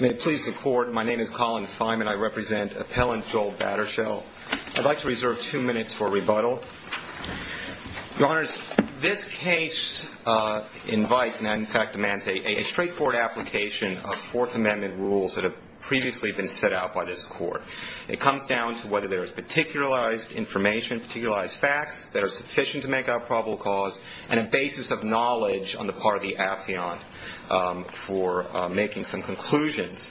May it please the Court, my name is Colin Feynman, I represent Appellant Joel Battershell. I'd like to reserve two minutes for rebuttal. Your Honors, this case invites, and in fact demands, a straightforward application of Fourth Amendment rules that have previously been set out by this Court. It comes down to whether there is particularized information, particularized facts that are sufficient to make up probable cause, and a basis of knowledge on the part of the affiant for making some conclusions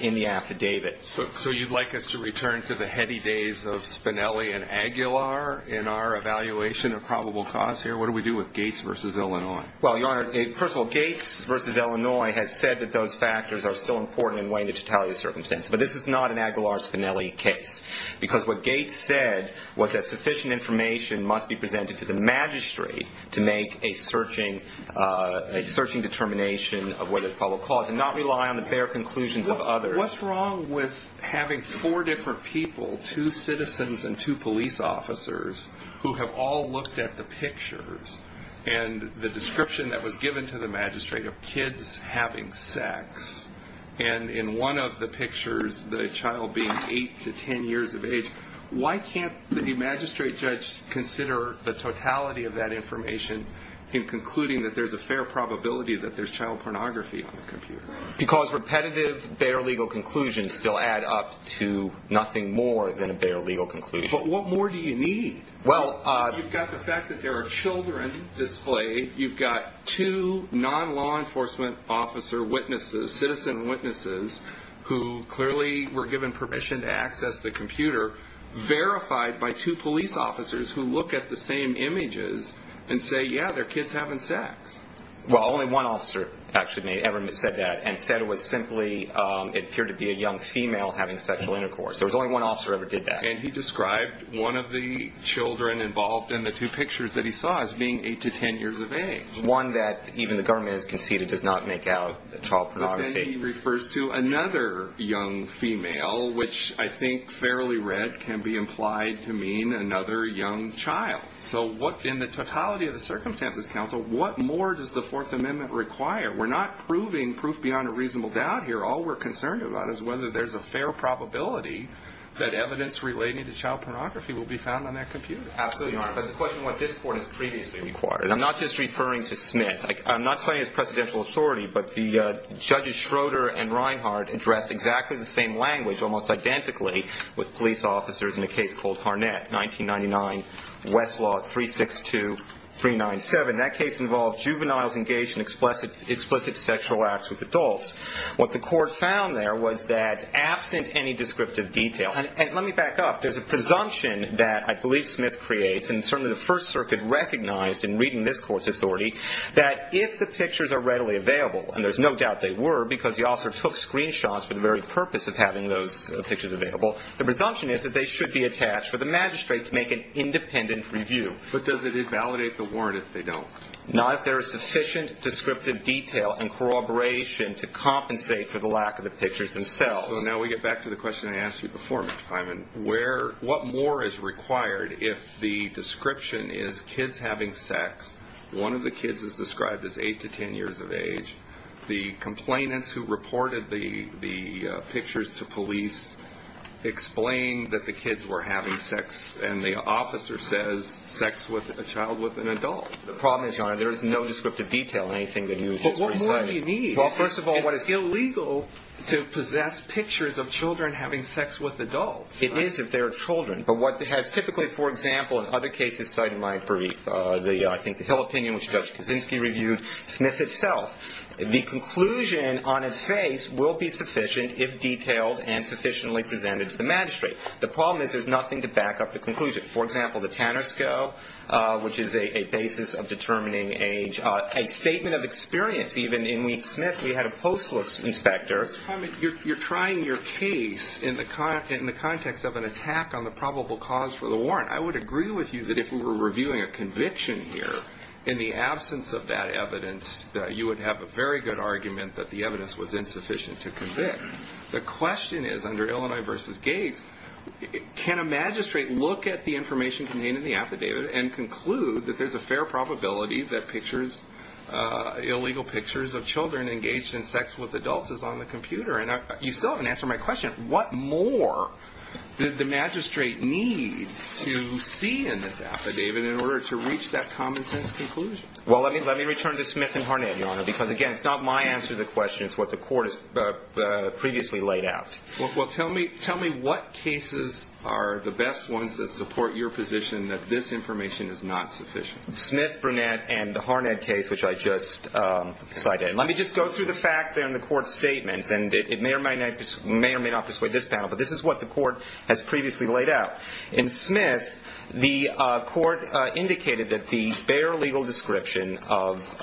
in the affidavit. So you'd like us to return to the heady days of Spinelli and Aguilar in our evaluation of probable cause here? What do we do with Gates v. Illinois? Well, Your Honor, first of all, Gates v. Illinois has said that those factors are still important in weighing the totality of the circumstance. But this is not an Aguilar-Spinelli case, because what Gates said was that sufficient information must be presented to the magistrate to make a searching determination of what is probable cause, and not rely on the bare conclusions of others. What's wrong with having four different people, two citizens and two police officers, who have all looked at the pictures and the description that was given to the magistrate of kids having sex, and in one of the pictures the child being 8 to 10 years of age? Why can't the magistrate judge consider the totality of that information in concluding that there's a fair probability that there's child pornography on the computer? Because repetitive, bare legal conclusions still add up to nothing more than a bare legal conclusion. But what more do you need? Well, you've got the fact that there are children displayed. You've got two non-law enforcement officer witnesses, citizen witnesses, who clearly were given permission to access the computer, verified by two police officers who look at the same images and say, yeah, they're kids having sex. Well, only one officer actually ever said that, and said it was simply, it appeared to be a young female having sexual intercourse. There was only one officer who ever did that. And he described one of the children involved in the two pictures that he saw as being 8 to 10 years of age. One that even the government has conceded does not make out child pornography. But then he refers to another young female, which I think fairly read can be implied to mean another young child. So in the totality of the circumstances, counsel, what more does the Fourth Amendment require? We're not proving proof beyond a reasonable doubt here. All we're concerned about is whether there's a fair probability that evidence relating to child pornography will be found on that computer. Absolutely, Your Honor. But it's a question of what this Court has previously required. And I'm not just referring to Smith. I'm not saying it's presidential authority, but the Judges Schroeder and Reinhart addressed exactly the same language, almost identically, with police officers in a case called Harnett, 1999, Westlaw 362397. That case involved juveniles engaged in explicit sexual acts with adults. What the Court found there was that absent any descriptive detail, and let me back up. There's a presumption that I believe Smith creates, and certainly the First Circuit recognized in reading this Court's authority, that if the pictures are readily available, and there's no doubt they were because the officer took screenshots for the very purpose of having those pictures available, the presumption is that they should be attached for the magistrate to make an independent review. But does it invalidate the warrant if they don't? Not if there is sufficient descriptive detail and corroboration to compensate for the lack of the pictures themselves. So now we get back to the question I asked you before, Mr. Hyman. What more is required if the description is kids having sex, one of the kids is described as 8 to 10 years of age, the complainants who reported the pictures to police explain that the kids were having sex, and the officer says sex with a child with an adult. The problem is, Your Honor, there is no descriptive detail in anything that you just recited. But what more do you need? Well, first of all, what is... It's illegal to possess pictures of children having sex with adults. It is if they're children. But what has typically, for example, in other cases cited in my brief, I think the Hill opinion, which Judge Kaczynski reviewed, Smith itself, the conclusion on his face will be sufficient if detailed and sufficiently presented to the magistrate. The problem is there's nothing to back up the conclusion. For example, the Tanner Scope, which is a basis of determining age, a statement of experience. Even in Lee Smith, we had a post-looks inspector. Mr. Hyman, you're trying your case in the context of an attack on the probable cause for the warrant. I would agree with you that if we were reviewing a conviction here, in the absence of that evidence, you would have a very good argument that the evidence was insufficient to convict. The question is, under Illinois v. Gates, can a magistrate look at the information contained in the affidavit and conclude that there's a fair probability that pictures, illegal pictures of children engaged in sex with adults is on the computer? And you still haven't answered my question. What more did the magistrate need to see in this affidavit in order to reach that common-sense conclusion? Well, let me return to Smith and Harnett, Your Honor, because, again, it's not my answer to the question. It's what the court has previously laid out. Well, tell me what cases are the best ones that support your position that this information is not sufficient. Smith, Burnett, and the Harnett case, which I just cited. Let me just go through the facts there in the court's statements, and it may or may not dissuade this panel, but this is what the court has previously laid out. In Smith, the court indicated that the bare legal description of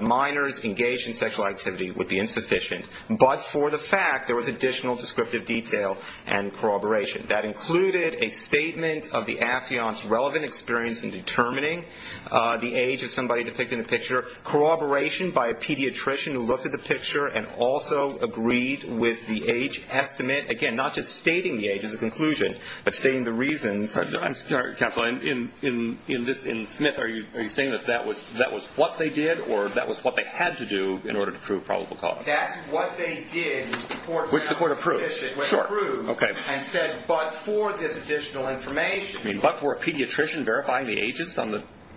minors engaged in sexual activity would be insufficient, but for the fact there was additional descriptive detail and corroboration. That included a statement of the affiant's relevant experience in determining the age of somebody depicted in the picture, corroboration by a pediatrician who looked at the picture and also agreed with the age estimate, again, not just stating the age as a conclusion, but stating the reasons. Counsel, in Smith, are you saying that that was what they did or that was what they had to do in order to prove probable cause? That's what they did, which the court approved. Which the court approved. Sure. And said, but for this additional information. But for a pediatrician verifying the ages,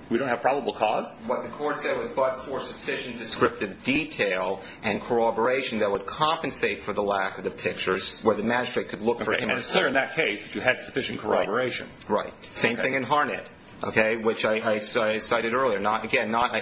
we don't have probable cause? What the court said was but for sufficient descriptive detail and corroboration that would compensate for the lack of the pictures where the magistrate could look for him. And it's clear in that case that you had sufficient corroboration. Right. Same thing in Harnett, okay, which I cited earlier. Again, not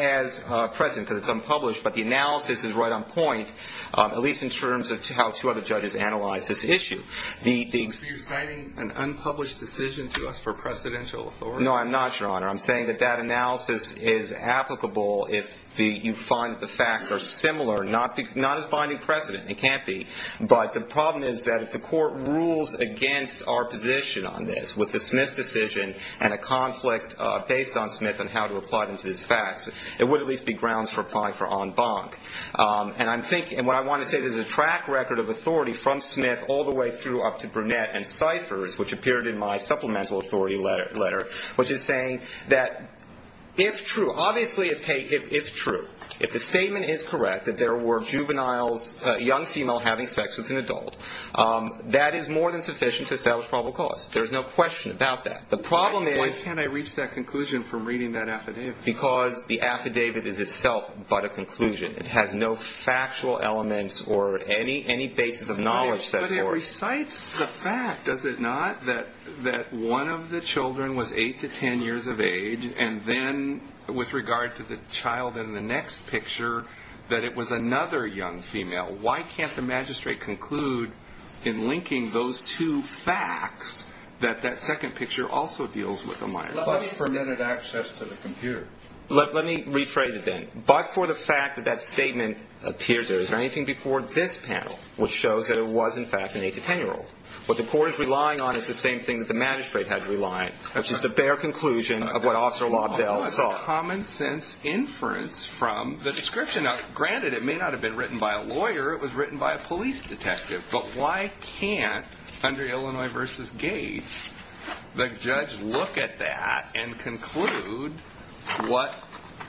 as present because it's unpublished, but the analysis is right on point, at least in terms of how two other judges analyzed this issue. So you're citing an unpublished decision to us for precedential authority? No, I'm not, Your Honor. I'm saying that that analysis is applicable if you find the facts are similar. Not as binding precedent. It can't be. But the problem is that if the court rules against our position on this with the Smith decision and a conflict based on Smith on how to apply them to these facts, it would at least be grounds for applying for en banc. And I'm thinking, and what I want to say, there's a track record of authority from Smith all the way through up to Brunette and Ciphers, which appeared in my supplemental authority letter, which is saying that if true, obviously it's true, if the statement is correct that there were juveniles, young female having sex with an adult, that is more than sufficient to establish probable cause. There's no question about that. The problem is why can't I reach that conclusion from reading that affidavit? Because the affidavit is itself but a conclusion. It has no factual elements or any basis of knowledge set forth. It recites the fact, does it not, that one of the children was 8 to 10 years of age and then with regard to the child in the next picture that it was another young female. Why can't the magistrate conclude in linking those two facts that that second picture also deals with a minor? But it permitted access to the computer. Let me rephrase it then. But for the fact that that statement appears, is there anything before this panel, which shows that it was in fact an 8 to 10-year-old. What the court is relying on is the same thing that the magistrate had to rely on, which is the bare conclusion of what Officer Lobdell saw. Common sense inference from the description. Granted, it may not have been written by a lawyer. It was written by a police detective. But why can't, under Illinois v. Gates, the judge look at that and conclude what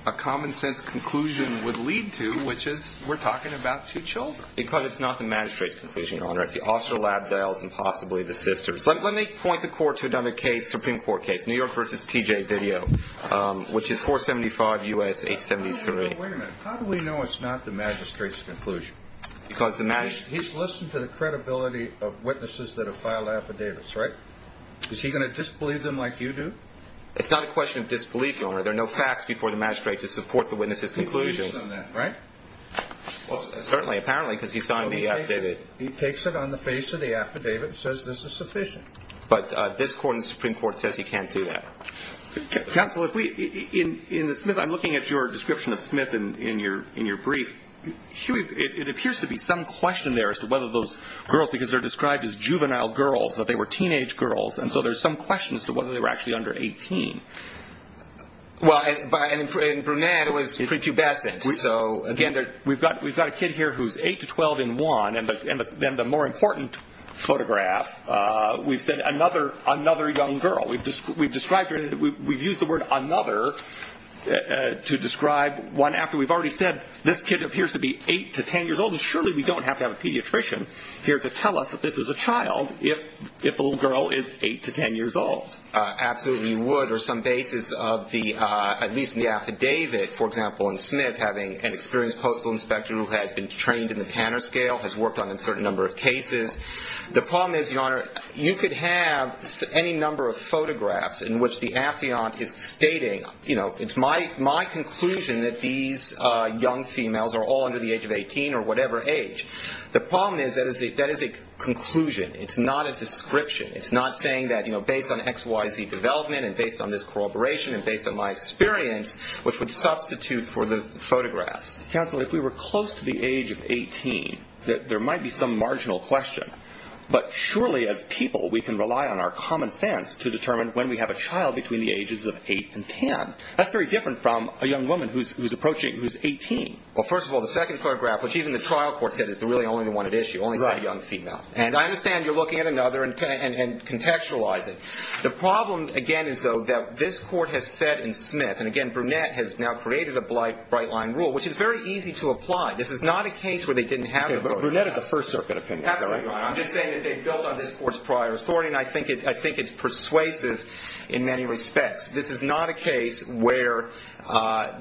a common sense conclusion would lead to, which is we're talking about two children. Because it's not the magistrate's conclusion, Your Honor. It's the Officer Lobdell's and possibly the sister's. Let me point the court to another case, Supreme Court case, New York v. P.J. Video, which is 475 U.S. 873. Wait a minute. How do we know it's not the magistrate's conclusion? He's listened to the credibility of witnesses that have filed affidavits, right? Is he going to disbelieve them like you do? It's not a question of disbelief, Your Honor. There are no facts before the magistrate to support the witness's conclusion. He believes them, right? Well, certainly, apparently, because he signed the affidavit. He takes it on the face of the affidavit and says this is sufficient. But this Supreme Court says he can't do that. Counsel, if we, in the Smith, I'm looking at your description of Smith in your brief. It appears to be some question there as to whether those girls, because they're described as juvenile girls, that they were teenage girls, and so there's some question as to whether they were actually under 18. Well, in Brunette, it was prepubescent. So, again, we've got a kid here who's 8 to 12 in one. And then the more important photograph, we've said another young girl. We've used the word another to describe one after we've already said this kid appears to be 8 to 10 years old, and surely we don't have to have a pediatrician here to tell us that this is a child if the little girl is 8 to 10 years old. Absolutely you would, or some basis of the, at least in the affidavit, for example, in Smith having an experienced postal inspector who has been trained in the Tanner scale, has worked on a certain number of cases. The problem is, Your Honor, you could have any number of photographs in which the affiant is stating, you know, it's my conclusion that these young females are all under the age of 18 or whatever age. The problem is that is a conclusion. It's not a description. It's not saying that, you know, based on XYZ development and based on this corroboration and based on my experience, which would substitute for the photographs. Counsel, if we were close to the age of 18, there might be some marginal question, but surely as people we can rely on our common sense to determine when we have a child between the ages of 8 and 10. That's very different from a young woman who's approaching, who's 18. Well, first of all, the second photograph, which even the trial court said is really only the one at issue, only said a young female. And I understand you're looking at another and contextualizing. The problem, again, is, though, that this court has said in Smith, and, again, Brunette has now created a bright line rule, which is very easy to apply. This is not a case where they didn't have a vote. Okay, but Brunette is a First Circuit opinion. Absolutely right. I'm just saying that they built on this course prior sorting. I think it's persuasive in many respects. This is not a case where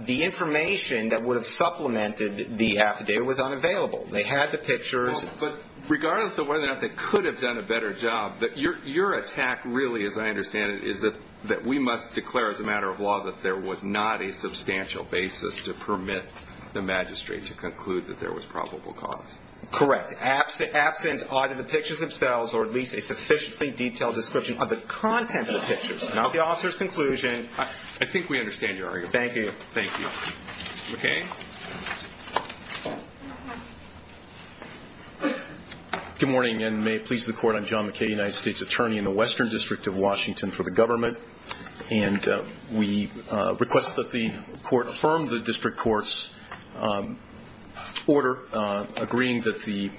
the information that would have supplemented the affidavit was unavailable. They had the pictures. But regardless of whether or not they could have done a better job, your attack really, as I understand it, is that we must declare as a matter of law that there was not a substantial basis to permit the magistrate to conclude that there was probable cause. Correct. Absent either the pictures themselves or at least a sufficiently detailed description of the content of the pictures, not the officer's conclusion. I think we understand your argument. Thank you. Thank you. McKay? Good morning, and may it please the Court. I'm John McKay, United States Attorney in the Western District of Washington for the government. And we request that the Court affirm the District Court's order agreeing that the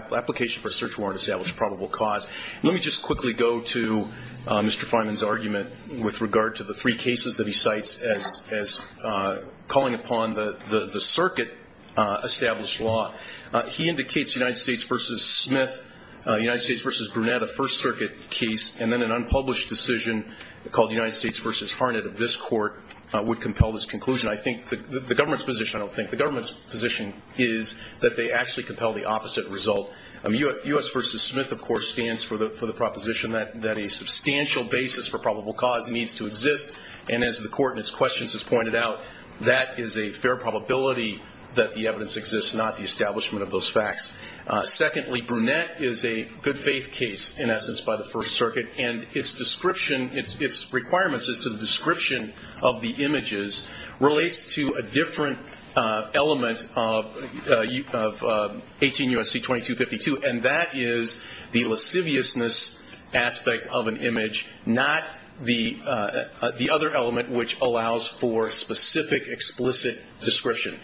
application for a search warrant established probable cause. Let me just quickly go to Mr. Fineman's argument with regard to the three cases that he cites as calling upon the circuit-established law. He indicates United States v. Smith, United States v. Brunette, a First Circuit case, and then an unpublished decision called United States v. Harnett of this Court would compel this conclusion. I think the government's position, I don't think, the government's position is that they actually compel the opposite result. U.S. v. Smith, of course, stands for the proposition that a substantial basis for probable cause needs to exist, and as the Court in its questions has pointed out, that is a fair probability that the evidence exists, not the establishment of those facts. Secondly, Brunette is a good-faith case, in essence, by the First Circuit, and its description, its requirements as to the description of the images relates to a different element of 18 U.S.C. 2252, and that is the lasciviousness aspect of an image, not the other element which allows for specific, explicit description.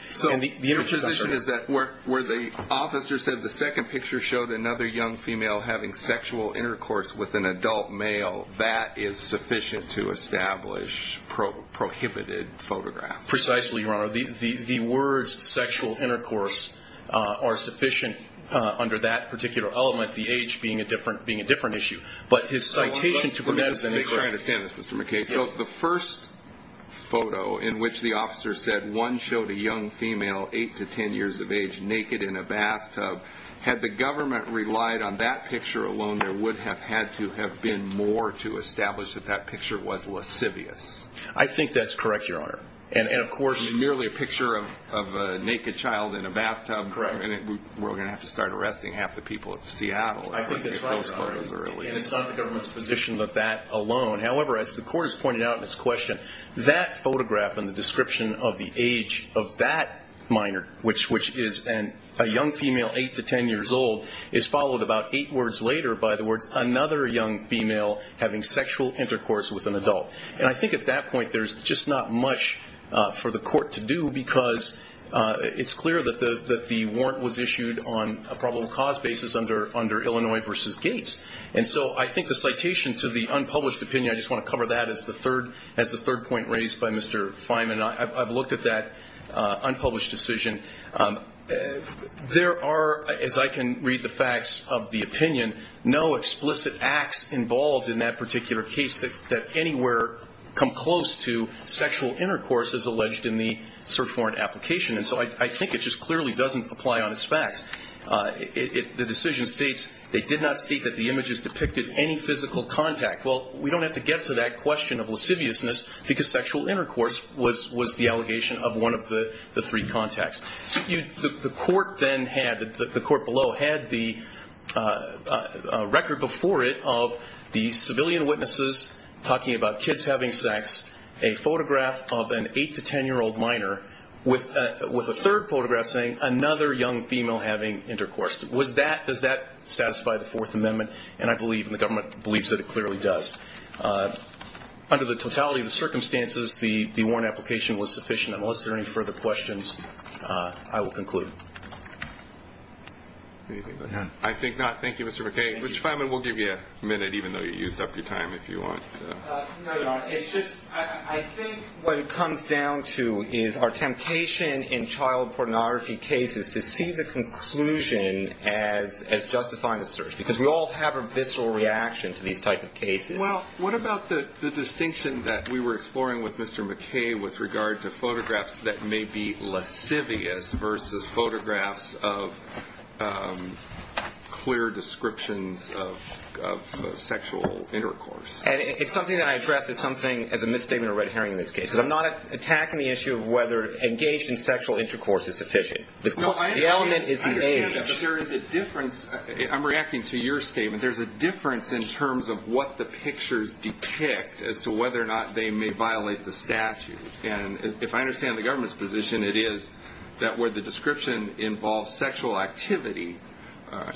Your position is that where the officer said the second picture showed another young female having sexual intercourse with an adult male, that is sufficient to establish prohibited photographs. Precisely, Your Honor. The words sexual intercourse are sufficient under that particular element, the age being a different issue. But his citation to Brunette is incorrect. Let me try to understand this, Mr. McKay. So the first photo in which the officer said one showed a young female, 8 to 10 years of age, naked in a bathtub, had the government relied on that picture alone, there would have had to have been more to establish that that picture was lascivious. I think that's correct, Your Honor. And of course Merely a picture of a naked child in a bathtub. Correct. We're going to have to start arresting half the people of Seattle. I think that's right, Your Honor, and it's not the government's position of that alone. However, as the Court has pointed out in its question, that photograph and the description of the age of that minor, which is a young female, 8 to 10 years old, is followed about eight words later by the words, another young female having sexual intercourse with an adult. And I think at that point there's just not much for the Court to do because it's clear that the warrant was issued on a probable cause basis under Illinois v. Gates. And so I think the citation to the unpublished opinion, I just want to cover that as the third point raised by Mr. Feynman. I've looked at that unpublished decision. There are, as I can read the facts of the opinion, no explicit acts involved in that particular case that anywhere come close to sexual intercourse as alleged in the search warrant application. And so I think it just clearly doesn't apply on its facts. The decision states they did not state that the images depicted any physical contact. Well, we don't have to get to that question of lasciviousness because sexual intercourse was the allegation of one of the three contacts. The Court then had, the Court below, had the record before it of the civilian witnesses talking about kids having sex, a photograph of an eight- to 10-year-old minor with a third photograph saying another young female having intercourse. Does that satisfy the Fourth Amendment? And I believe, and the government believes that it clearly does. Under the totality of the circumstances, the warrant application was sufficient. Unless there are any further questions, I will conclude. I think not. Thank you, Mr. McKay. Mr. Feynman, we'll give you a minute, even though you used up your time, if you want. No, Your Honor. It's just I think what it comes down to is our temptation in child pornography cases to see the conclusion as justifying the search because we all have a visceral reaction to these type of cases. Well, what about the distinction that we were exploring with Mr. McKay with regard to photographs that may be lascivious versus photographs of clear descriptions of sexual intercourse? It's something that I addressed as something, as a misstatement or red herring in this case because I'm not attacking the issue of whether engaged in sexual intercourse is sufficient. The element is the age. There is a difference. I'm reacting to your statement. There's a difference in terms of what the pictures depict as to whether or not they may violate the statute. And if I understand the government's position, it is that where the description involves sexual activity,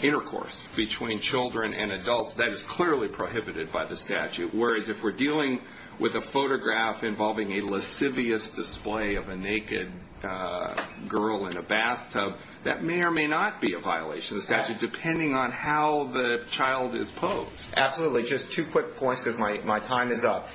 intercourse between children and adults, that is clearly prohibited by the statute, whereas if we're dealing with a photograph involving a lascivious display of a naked girl in a bathtub, that may or may not be a violation of the statute depending on how the child is posed. Absolutely. Just two quick points because my time is up.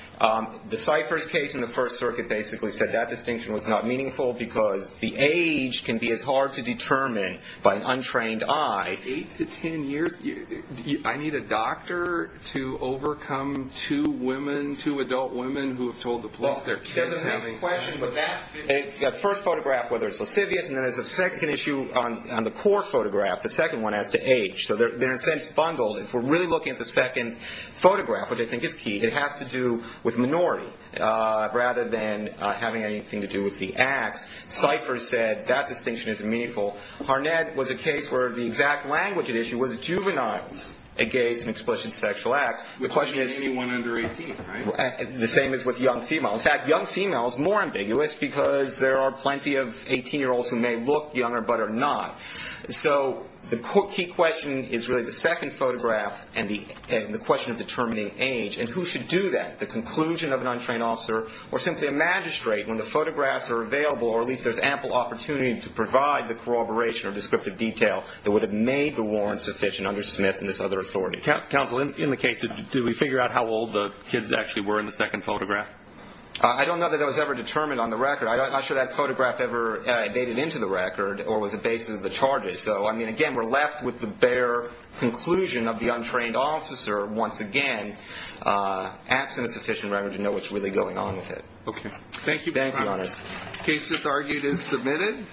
The Cyphers case in the First Circuit basically said that distinction was not meaningful because the age can be as hard to determine by an untrained eye. Eight to ten years? I need a doctor to overcome two women, two adult women, who have told the police they're kids now? That's a nice question, but that's the issue. The first photograph, whether it's lascivious, and then there's a second issue on the core photograph, the second one as to age. So they're in a sense bundled. If we're really looking at the second photograph, which I think is key, it has to do with minority rather than having anything to do with the acts. Cyphers said that distinction isn't meaningful. Harnett was a case where the exact language at issue was juveniles against an explicit sexual act. The question is- Anyone under 18, right? The same as with young females. In fact, young females more ambiguous because there are plenty of 18-year-olds who may look younger but are not. So the key question is really the second photograph and the question of determining age and who should do that, the conclusion of an untrained officer or simply a magistrate when the photographs are available or at least there's ample opportunity to provide the corroboration or descriptive detail that would have made the warrant sufficient under Smith and this other authority. Counsel, in the case, did we figure out how old the kids actually were in the second photograph? I don't know that that was ever determined on the record. I'm not sure that photograph ever made it into the record or was a basis of the charges. So, I mean, again, we're left with the bare conclusion of the untrained officer, once again, absent a sufficient record to know what's really going on with it. Okay. Thank you. Thank you, Your Honor. The case just argued is submitted.